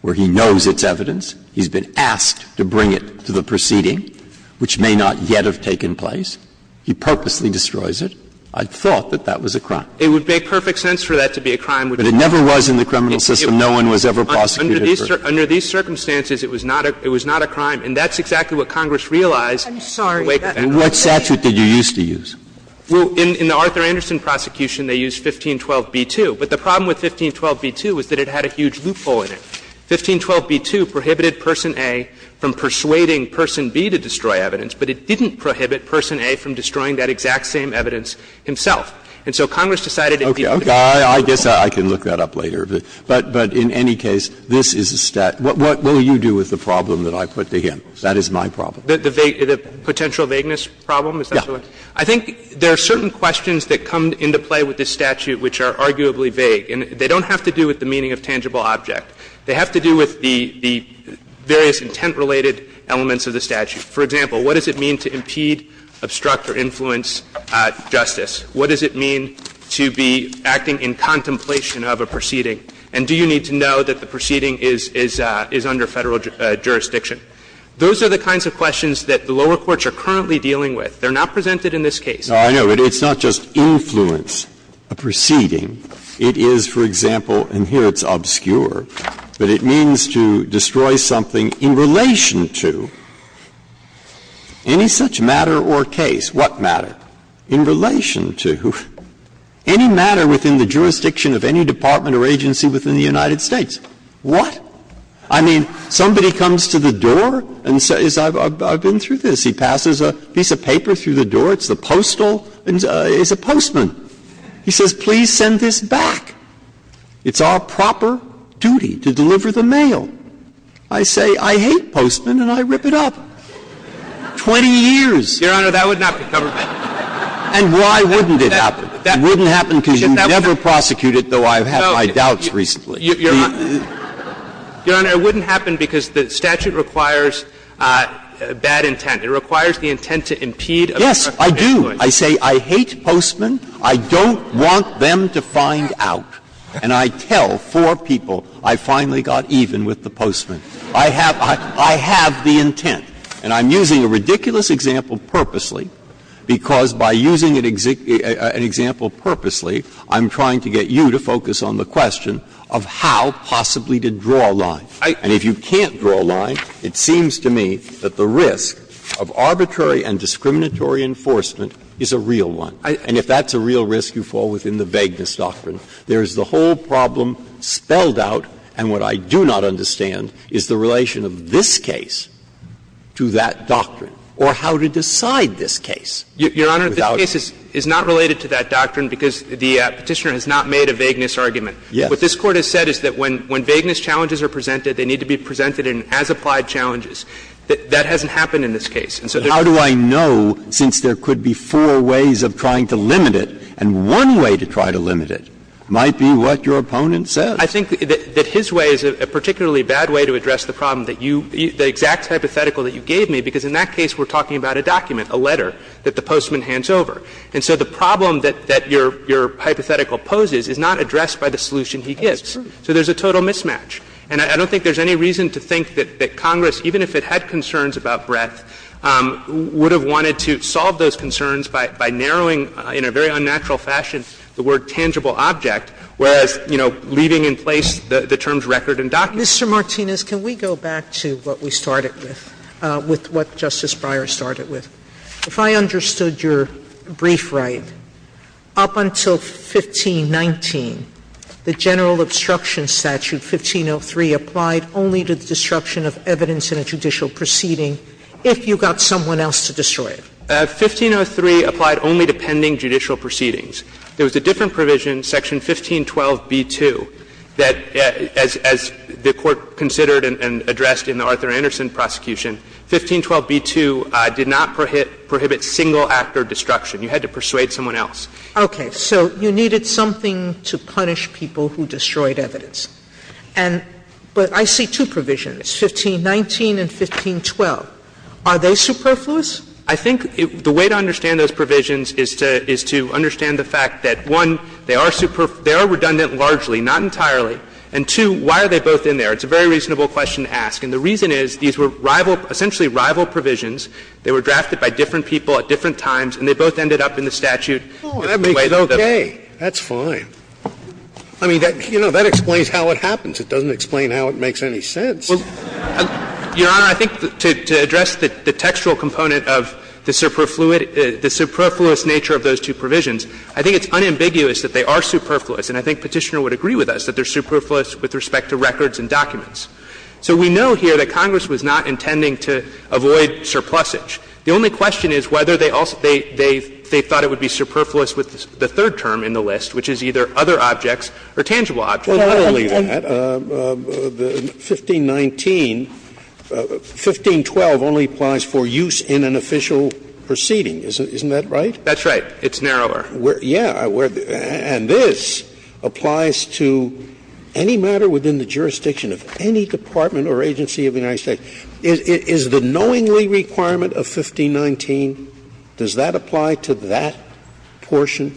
where he knows it's evidence, he's been asked to bring it to the proceeding, which may not yet have taken place, he purposely destroys it. I thought that that was a crime. It would make perfect sense for that to be a crime. But it never was in the criminal system. No one was ever prosecuted for it. Under these circumstances, it was not a crime, and that's exactly what Congress realized later. I'm sorry. And what statute did you used to use? Well, in the Arthur Anderson prosecution, they used 1512b-2. But the problem with 1512b-2 was that it had a huge loophole in it. 1512b-2 prohibited Person A from persuading Person B to destroy evidence, but it didn't prohibit Person A from destroying that exact same evidence himself. And so Congress decided it needed to be a loophole. Okay. I guess I can look that up later. But in any case, this is a statute. What will you do with the problem that I put to him? That is my problem. The potential vagueness problem? Yeah. I think there are certain questions that come into play with this statute which are arguably vague. And they don't have to do with the meaning of tangible object. They have to do with the various intent-related elements of the statute. For example, what does it mean to impede, obstruct, or influence justice? What does it mean to be acting in contemplation of a proceeding? And do you need to know that the proceeding is under Federal jurisdiction? Those are the kinds of questions that the lower courts are currently dealing with. They are not presented in this case. Breyer. No, I know, but it's not just influence a proceeding. It is, for example, and here it's obscure, but it means to destroy something in relation to any such matter or case. What matter? In relation to any matter within the jurisdiction of any department or agency within the United States. What? I mean, somebody comes to the door and says, I've been through this. He passes a piece of paper through the door, it's the postal, it's a postman. He says, please send this back. It's our proper duty to deliver the mail. I say, I hate postmen, and I rip it up. 20 years. Your Honor, that would not be covered by the statute. And why wouldn't it happen? It wouldn't happen because you never prosecuted, though I've had my doubts recently. Your Honor, it wouldn't happen because the statute requires bad intent. It requires the intent to impede appropriate influence. Yes, I do. I say, I hate postmen, I don't want them to find out. And I tell four people, I finally got even with the postman. I have the intent. And I'm using a ridiculous example purposely, because by using an example purposely, I'm trying to get you to focus on the question of how possibly to draw a line. And if you can't draw a line, it seems to me that the risk of arbitrary and discriminatory enforcement is a real one. And if that's a real risk, you fall within the vagueness doctrine. There is the whole problem spelled out, and what I do not understand is the relation of this case to that doctrine, or how to decide this case. Your Honor, this case is not related to that doctrine because the Petitioner has not made a vagueness argument. Yes. What this Court has said is that when vagueness challenges are presented, they need to be presented as applied challenges. That hasn't happened in this case. And so there's not a way to limit it. But how do I know, since there could be four ways of trying to limit it, and one way to try to limit it might be what your opponent says? I think that his way is a particularly bad way to address the problem that you – the exact hypothetical that you gave me, because in that case we're talking about a document, a letter, that the postman hands over. And so the problem that your hypothetical poses is not addressed by the solution he gives. So there's a total mismatch. And I don't think there's any reason to think that Congress, even if it had concerns about breadth, would have wanted to solve those concerns by narrowing, in a very unnatural fashion, the word tangible object, whereas, you know, leaving in place the terms record and document. Sotomayor, Mr. Martinez, can we go back to what we started with, with what Justice Breyer started with? If I understood your brief right, up until 1519, the general obstruction statute, 1503, applied only to the destruction of evidence in a judicial proceeding if you got someone else to destroy it. 1503 applied only to pending judicial proceedings. There was a different provision, section 1512b2, that, as the Court considered and addressed in the Arthur Anderson prosecution, 1512b2 did not prohibit single actor destruction. You had to persuade someone else. Okay. So you needed something to punish people who destroyed evidence. And but I see two provisions, 1519 and 1512. Are they superfluous? I think the way to understand those provisions is to understand the fact that, one, they are redundant largely, not entirely, and, two, why are they both in there? It's a very reasonable question to ask. And the reason is, these were rival, essentially rival provisions. They were drafted by different people at different times, and they both ended up in the statute in the way that they were drafted. Oh, that makes it okay. That's fine. I mean, that, you know, that explains how it happens. It doesn't explain how it makes any sense. Well, Your Honor, I think to address the textual component of the superfluous nature of those two provisions, I think it's unambiguous that they are superfluous. And I think Petitioner would agree with us that they are superfluous with respect to records and documents. So we know here that Congress was not intending to avoid surplusage. The only question is whether they thought it would be superfluous with the third term in the list, which is either other objects or tangible objects. Scalia, and the 1519, 1512 only applies for use in an official proceeding. Isn't that right? That's right. It's narrower. Yeah. And this applies to any matter within the jurisdiction of any department or agency of the United States. Is the knowingly requirement of 1519, does that apply to that portion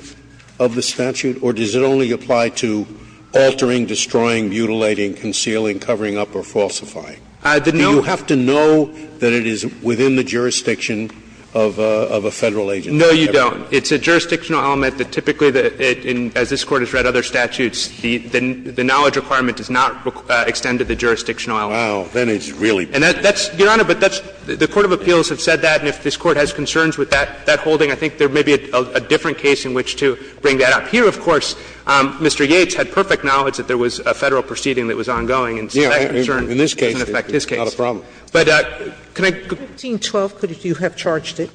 of the statute, or does it only apply to altering, destroying, mutilating, concealing, covering up, or falsifying? Do you have to know that it is within the jurisdiction of a Federal agency? No, you don't. It's a jurisdictional element that typically, as this Court has read other statutes, the knowledge requirement does not extend to the jurisdictional element. Wow. Then it's really. And that's, Your Honor, but that's the court of appeals have said that, and if this Court has concerns with that holding, I think there may be a different case in which to bring that up. Here, of course, Mr. Yates had perfect knowledge that there was a Federal proceeding that was ongoing, and so that concern doesn't affect his case. Yeah, in this case, it's not a problem. But can I go to the other case? 1512, could you have charged it?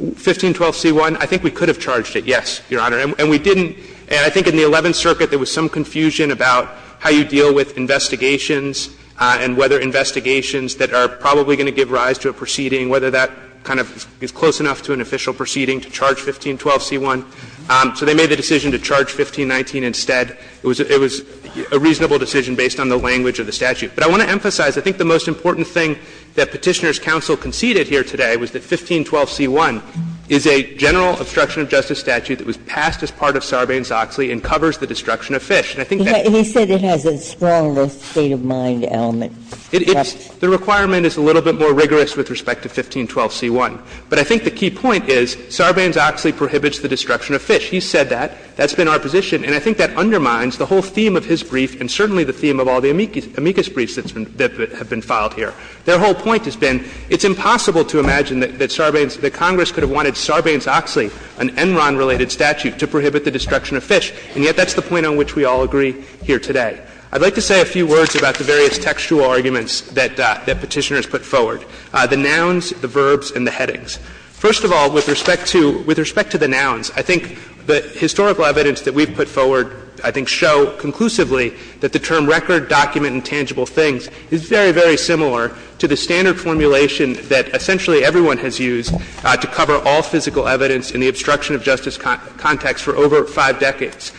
1512c1. I think we could have charged it, yes, Your Honor. And we didn't. And I think in the Eleventh Circuit there was some confusion about how you deal with investigations and whether investigations that are probably going to give rise to a proceeding, whether that kind of is close enough to an official proceeding to charge 1512c1. So they made the decision to charge 1519 instead. It was a reasonable decision based on the language of the statute. But I want to emphasize, I think the most important thing that Petitioner's counsel conceded here today was that 1512c1 is a general obstruction of justice statute that was passed as part of Sarbanes-Oxley and covers the destruction of Fish. And I think that's the case. He said it has a stronger state of mind element. It is. The requirement is a little bit more rigorous with respect to 1512c1. But I think the key point is Sarbanes-Oxley prohibits the destruction of Fish. He said that. That's been our position. And I think that undermines the whole theme of his brief and certainly the theme of all the amicus briefs that have been filed here. Their whole point has been it's impossible to imagine that Sarbanes — that Congress could have wanted Sarbanes-Oxley, an Enron-related statute, to prohibit the destruction of Fish. And yet that's the point on which we all agree here today. I'd like to say a few words about the various textual arguments that Petitioner has put forward, the nouns, the verbs, and the headings. First of all, with respect to — with respect to the nouns, I think the historical evidence that we've put forward, I think, show conclusively that the term record, document, and tangible things is very, very similar to the standard formulation that essentially everyone has used to cover all physical evidence in the obstruction of justice context for over five decades.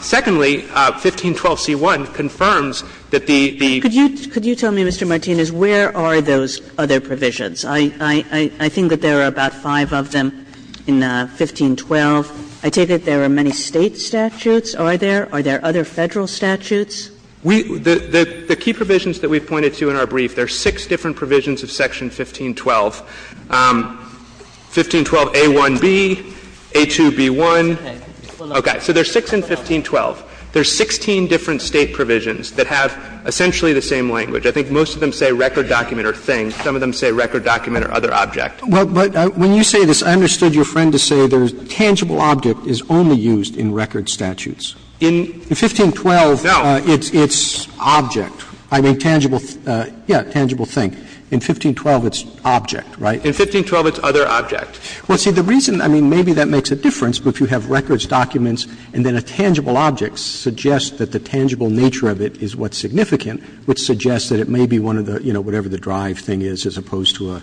Secondly, 1512c1 confirms that the — Kagan. Could you tell me, Mr. Martinez, where are those other provisions? I think that there are about five of them in 1512. I take it there are many State statutes. Are there? Are there other Federal statutes? The key provisions that we've pointed to in our brief, there are six different provisions of Section 1512, 1512a1b, a2b1. Okay. So there are six in 1512. There are 16 different State provisions that have essentially the same language. I think most of them say record, document, or thing. Some of them say record, document, or other object. But when you say this, I understood your friend to say the tangible object is only used in record statutes. In 1512, it's not. It's object. I mean, tangible, yeah, tangible thing. In 1512, it's object, right? In 1512, it's other object. Well, see, the reason, I mean, maybe that makes a difference, but if you have records, documents, and then a tangible object suggests that the tangible nature of it is what's significant, which suggests that it may be one of the, you know, whatever the drive thing is as opposed to a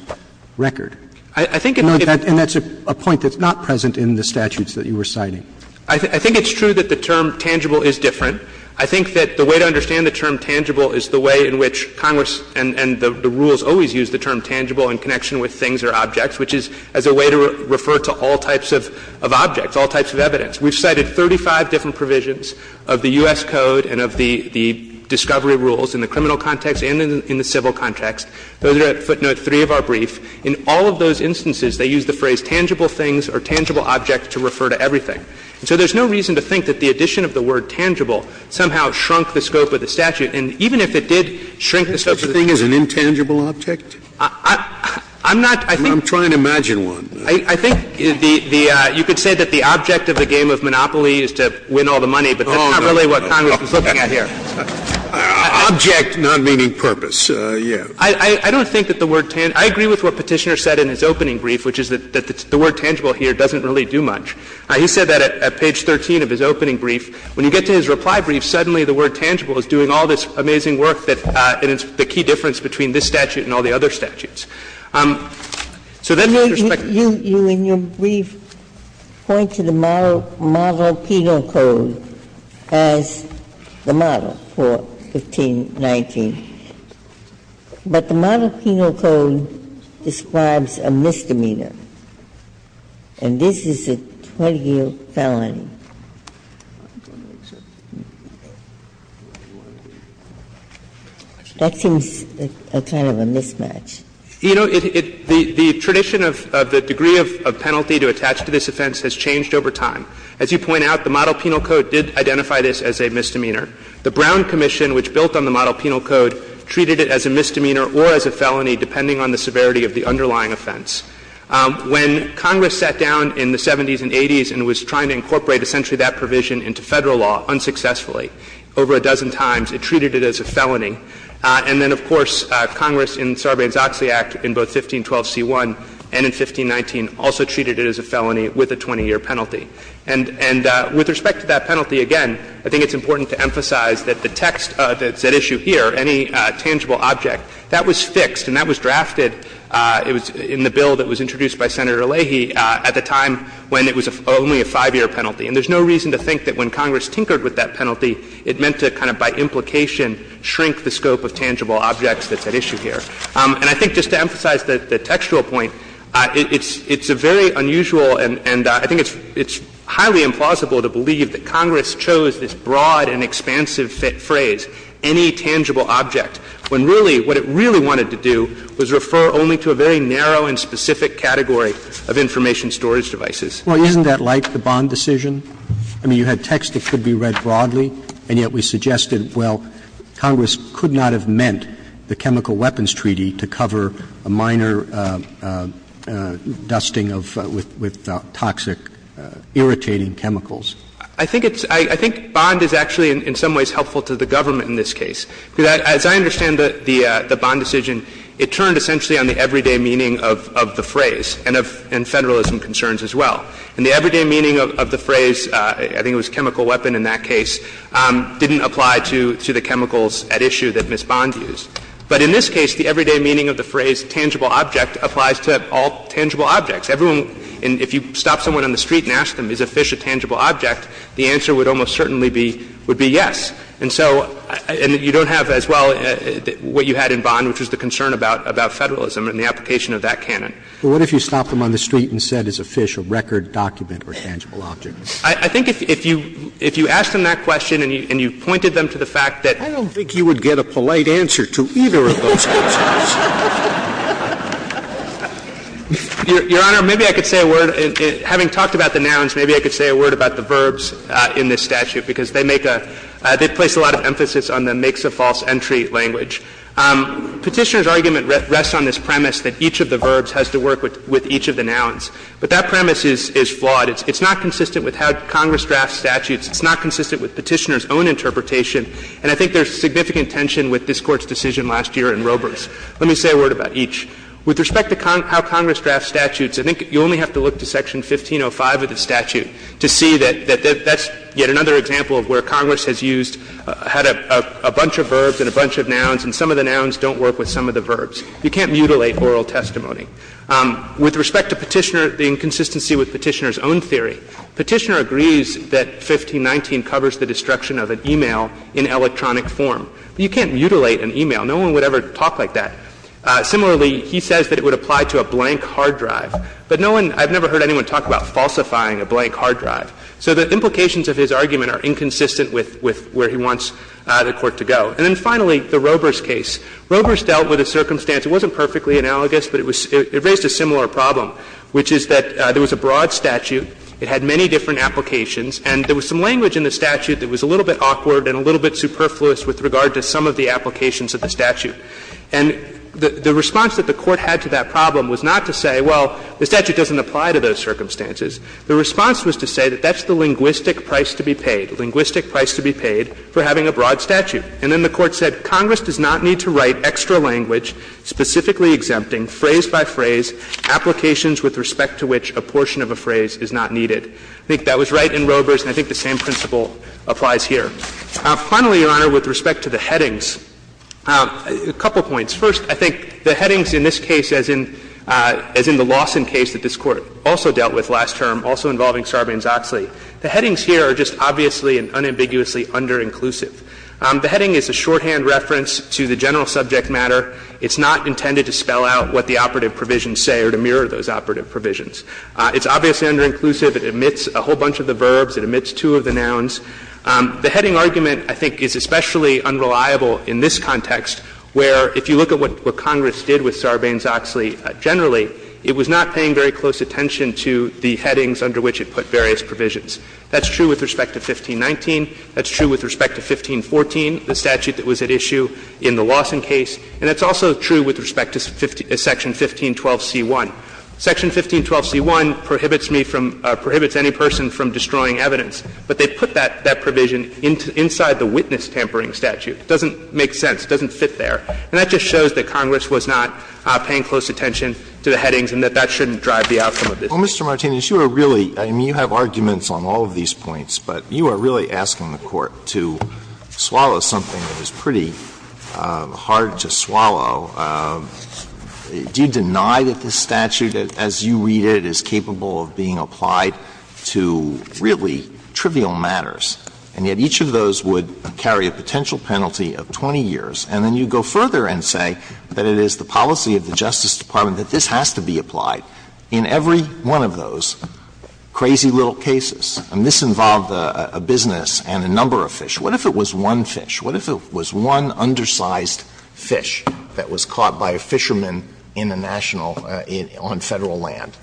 record. I think it's a point that's not present in the statutes that you were citing. I think it's true that the term tangible is different. I think that the way to understand the term tangible is the way in which Congress and the rules always use the term tangible in connection with things or objects, which is as a way to refer to all types of objects, all types of evidence. We've cited 35 different provisions of the U.S. Code and of the discovery rules in the criminal context and in the civil context. Those are at footnote 3 of our brief. In all of those instances, they use the phrase tangible things or tangible object to refer to everything. And so there's no reason to think that the addition of the word tangible somehow shrunk the scope of the statute. And even if it did shrink the scope of the statute. Scalia, Is such a thing as an intangible object? I'm not, I think. I'm trying to imagine one. I think the you could say that the object of the game of Monopoly is to win all the money, but that's not really what Congress is looking at here. Object not meaning purpose. Yes. I don't think that the word tangible. I agree with what Petitioner said in his opening brief, which is that the word tangible here doesn't really do much. He said that at page 13 of his opening brief. When you get to his reply brief, suddenly the word tangible is doing all this amazing work that is the key difference between this statute and all the other statutes. So then with respect to the You, in your brief, point to the Model Penal Code as the model for 1519. But the Model Penal Code describes a misdemeanor. And this is a 20-year felony. That seems a kind of a mismatch. You know, it, the tradition of the degree of penalty to attach to this offense has changed over time. As you point out, the Model Penal Code did identify this as a misdemeanor. The Brown Commission, which built on the Model Penal Code, treated it as a misdemeanor or as a felony, depending on the severity of the underlying offense. When Congress sat down in the 70s and 80s and was trying to incorporate essentially that provision into Federal law unsuccessfully over a dozen times, it treated it as a felony. And then, of course, Congress in Sarbanes-Oxley Act in both 1512c1 and in 1519 also treated it as a felony with a 20-year penalty. And with respect to that penalty, again, I think it's important to emphasize that the text of that issue here, any tangible object, that was fixed and that was introduced by Senator Leahy at the time when it was only a 5-year penalty. And there's no reason to think that when Congress tinkered with that penalty, it meant to kind of by implication shrink the scope of tangible objects that's at issue here. And I think just to emphasize the textual point, it's a very unusual and I think it's highly implausible to believe that Congress chose this broad and expansive phrase, any tangible object, when really what it really wanted to do was refer only to a very narrow and specific category of information storage devices. Roberts. Well, isn't that like the Bond decision? I mean, you had text that could be read broadly, and yet we suggested, well, Congress could not have meant the Chemical Weapons Treaty to cover a minor dusting of, with toxic, irritating chemicals. I think it's – I think Bond is actually in some ways helpful to the government in this case. Because as I understand the Bond decision, it turned essentially on the everyday meaning of the phrase and Federalism concerns as well. And the everyday meaning of the phrase, I think it was chemical weapon in that case, didn't apply to the chemicals at issue that Ms. Bond used. But in this case, the everyday meaning of the phrase tangible object applies to all tangible objects. Everyone – if you stop someone on the street and ask them, is a fish a tangible object, the answer would almost certainly be yes. And so – and you don't have as well what you had in Bond, which was the concern about Federalism and the application of that canon. But what if you stopped them on the street and said, is a fish a record, document, or tangible object? I think if you asked them that question and you pointed them to the fact that – I don't think you would get a polite answer to either of those questions. Your Honor, maybe I could say a word. Having talked about the nouns, maybe I could say a word about the verbs in this statute, because they make a – they place a lot of emphasis on the makes-of-false-entry language. Petitioner's argument rests on this premise that each of the verbs has to work with each of the nouns. But that premise is flawed. It's not consistent with how Congress drafts statutes. It's not consistent with Petitioner's own interpretation. And I think there's significant tension with this Court's decision last year in Roberts. Let me say a word about each. With respect to how Congress drafts statutes, I think you only have to look to Section 1505 of the statute to see that that's yet another example of where Congress has used – had a bunch of verbs and a bunch of nouns, and some of the nouns don't work with some of the verbs. You can't mutilate oral testimony. With respect to Petitioner, the inconsistency with Petitioner's own theory, Petitioner agrees that 1519 covers the destruction of an e-mail in electronic form. But you can't mutilate an e-mail. No one would ever talk like that. Similarly, he says that it would apply to a blank hard drive. But no one – I've never heard anyone talk about falsifying a blank hard drive. So the implications of his argument are inconsistent with where he wants the Court to go. And then finally, the Roberts case. Roberts dealt with a circumstance. It wasn't perfectly analogous, but it raised a similar problem, which is that there was a broad statute, it had many different applications, and there was some language in the statute that was a little bit awkward and a little bit superfluous with regard to some of the applications of the statute. And the response that the Court had to that problem was not to say, well, the statute doesn't apply to those circumstances. The response was to say that that's the linguistic price to be paid, linguistic price to be paid for having a broad statute. And then the Court said, Congress does not need to write extra language specifically exempting phrase by phrase applications with respect to which a portion of a phrase is not needed. I think that was right in Roberts, and I think the same principle applies here. Finally, Your Honor, with respect to the headings, a couple points. First, I think the headings in this case, as in the Lawson case that this Court also dealt with last term, also involving Sarbanes-Oxley, the headings here are just obviously and unambiguously under-inclusive. The heading is a shorthand reference to the general subject matter. It's not intended to spell out what the operative provisions say or to mirror those operative provisions. It's obviously under-inclusive. It omits two of the nouns. The heading argument, I think, is especially unreliable in this context, where if you look at what Congress did with Sarbanes-Oxley generally, it was not paying very close attention to the headings under which it put various provisions. That's true with respect to 1519. That's true with respect to 1514, the statute that was at issue in the Lawson case. And it's also true with respect to Section 1512c1. Section 1512c1 prohibits me from or prohibits any person from destroying evidence, but they put that provision inside the witness-tampering statute. It doesn't make sense. It doesn't fit there. And that just shows that Congress was not paying close attention to the headings and that that shouldn't drive the outcome of this case. Alito Well, Mr. Martinez, you are really – I mean, you have arguments on all of these points, but you are really asking the Court to swallow something that is pretty hard to swallow. Do you deny that this statute, as you read it, is capable of being applied to really trivial matters, and yet each of those would carry a potential penalty of 20 years? And then you go further and say that it is the policy of the Justice Department that this has to be applied in every one of those crazy little cases. I mean, this involved a business and a number of fish. What if it was one fish? What if it was one undersized fish that was caught by a fisherman in a national – on Federal land?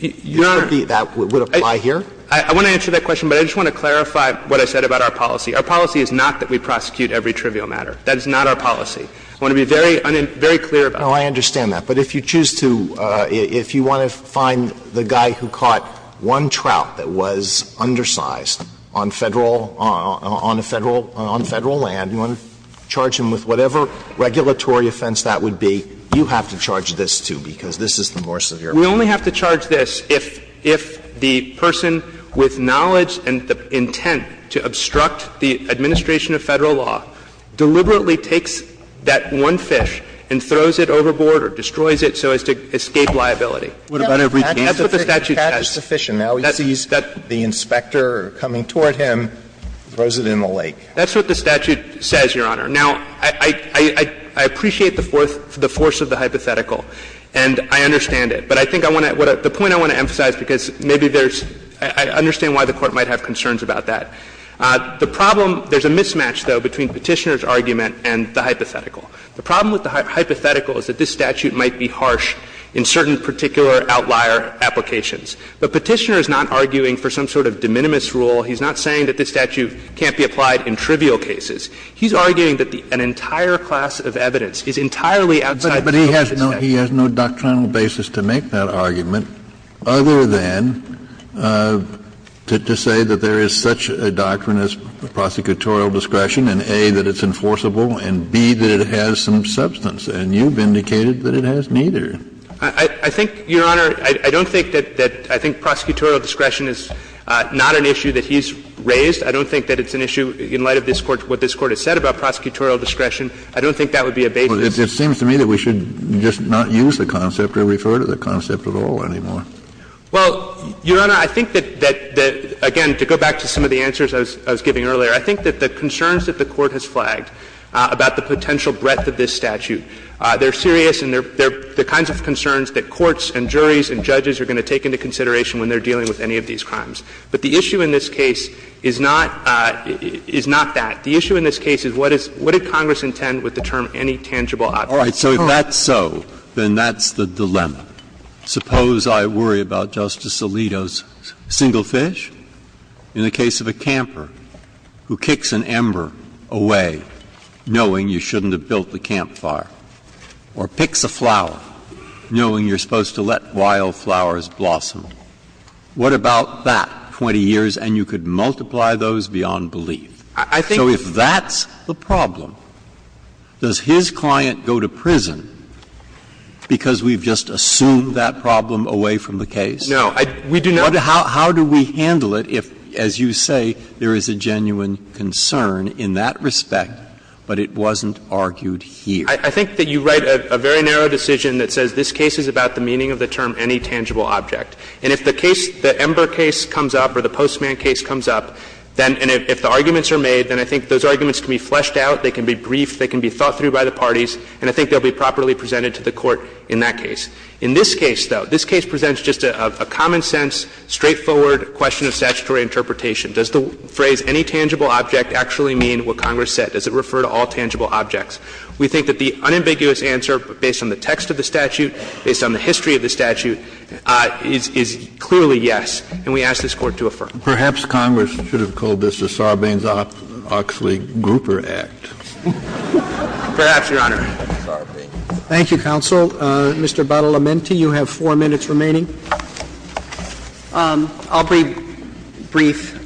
That would apply here? Martinez I want to answer that question, but I just want to clarify what I said about our policy. Our policy is not that we prosecute every trivial matter. That is not our policy. I want to be very clear about that. Alito Oh, I understand that. But if you choose to – if you want to find the guy who caught one trout that was undersized on Federal – on Federal land, you want to charge him with whatever regulatory offense that would be, you have to charge this, too, because this is the more severe offense. We only have to charge this if the person with knowledge and the intent to obstruct the administration of Federal law deliberately takes that one fish and throws it overboard or destroys it so as to escape liability. That's what the statute says. That's what the statute says. Sotomayor Now he sees the inspector coming toward him, throws it in the lake. Martinez That's what the statute says, Your Honor. Now, I appreciate the force of the hypothetical, and I understand it. But I think I want to – the point I want to emphasize, because maybe there's – I understand why the Court might have concerns about that. The problem – there's a mismatch, though, between Petitioner's argument and the hypothetical. The problem with the hypothetical is that this statute might be harsh in certain particular outlier applications. But Petitioner is not arguing for some sort of de minimis rule. He's not saying that this statute can't be applied in trivial cases. statute. Kennedy He has no doctrinal basis to make that argument other than to say that there is such a doctrine as prosecutorial discretion, and A, that it's enforceable, and B, that it has some substance. And you've indicated that it has neither. Martinez I think, Your Honor, I don't think that – I think prosecutorial discretion is not an issue that he's raised. I don't think that it's an issue in light of this Court – what this Court has said about prosecutorial discretion. I don't think that would be a basis. Kennedy It seems to me that we should just not use the concept or refer to the concept at all anymore. Martinez Well, Your Honor, I think that – that, again, to go back to some of the answers I was giving earlier, I think that the concerns that the Court has flagged about the potential breadth of this statute, they're serious and they're kinds of concerns that courts and juries and judges are going to take into consideration when they're dealing with any of these crimes. But the issue in this case is not – is not that. The issue in this case is what is – what did Congress intend with the term any tangible object? Breyer All right. So if that's so, then that's the dilemma. Suppose I worry about Justice Alito's single fish? In the case of a camper who kicks an ember away knowing you shouldn't have built the campfire, or picks a flower knowing you're supposed to let wild flowers blossom, what about that 20 years and you could multiply those beyond belief? So if that's the problem, does his client go to prison because we've just assumed that problem away from the case? Martinez No. We do not. Breyer How do we handle it if, as you say, there is a genuine concern in that respect, but it wasn't argued here? Martinez I think that you write a very narrow decision that says this case is about the meaning of the term any tangible object. And if the case, the ember case comes up or the postman case comes up, then if the arguments are made, then I think those arguments can be fleshed out, they can be briefed, they can be thought through by the parties, and I think they'll be properly presented to the Court in that case. In this case, though, this case presents just a common sense, straightforward question of statutory interpretation. Does the phrase any tangible object actually mean what Congress said? Does it refer to all tangible objects? We think that the unambiguous answer, based on the text of the statute, based on the history of the statute, is clearly yes, and we ask this Court to affirm. Kennedy Perhaps Congress should have called this the Sarbanes-Oxley-Gruper Martinez Perhaps, Your Honor. Roberts Thank you, counsel. Mr. Badalamenti, you have four minutes remaining. Badalamenti I'll be brief.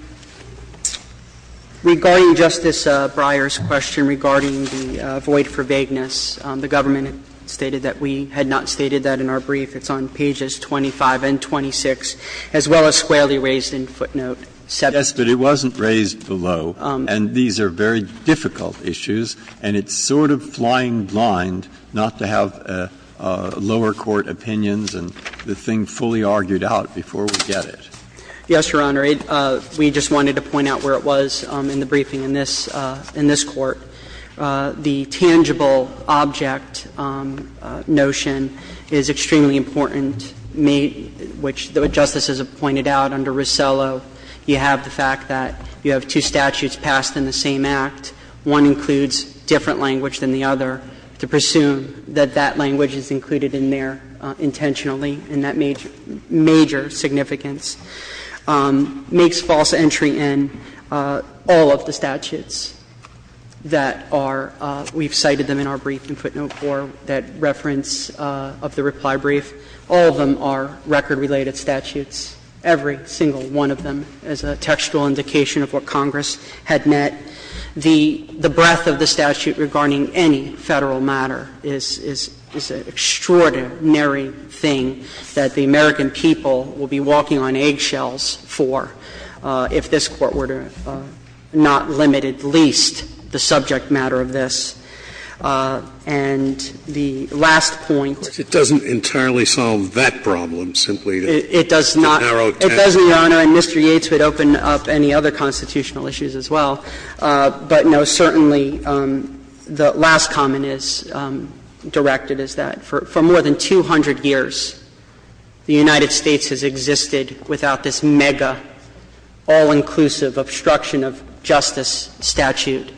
Regarding Justice Breyer's question regarding the void for vagueness, the government stated that we had not stated that in our brief. It's on pages 25 and 26, as well as squarely raised in footnote 7. Breyer Yes, but it wasn't raised below, and these are very difficult issues, and it's sort of flying blind not to have lower court opinions and the thing fully argued out before we get it. Badalamenti Yes, Your Honor. We just wanted to point out where it was in the briefing in this court. The tangible object notion is extremely important, which the justices have pointed out under Rosello, you have the fact that you have two statutes passed in the same act. One includes different language than the other to presume that that language is included in there intentionally in that major significance, makes false entry in all of the statutes that are we've cited them in our brief in footnote 4, that reference of the reply brief. All of them are record-related statutes, every single one of them, as a textual indication of what Congress had met. The breadth of the statute regarding any Federal matter is an extraordinary thing that the American people will be walking on eggshells for if this Court were to not limit at least the subject matter of this. And the last point. Scalia It doesn't entirely solve that problem, simply the narrow text. Badalamenti It does not, Your Honor, and Mr. Yates would open up any other constitutional issues as well, but no, certainly the last comment is directed as that. For more than 200 years, the United States has existed without this mega, all-inclusive obstruction of justice statute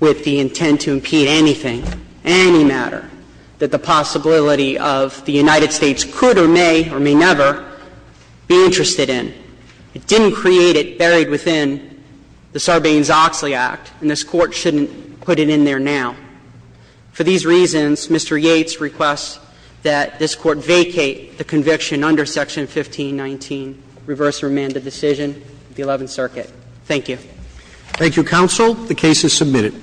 with the intent to impede anything, any matter, that the possibility of the United States could or may or may never be interested in. It didn't create it buried within the Sarbanes-Oxley Act, and this Court shouldn't put it in there now. For these reasons, Mr. Yates requests that this Court vacate the conviction under Section 1519, reverse remanded decision of the Eleventh Circuit. Thank you. Roberts Thank you, counsel. The case is submitted.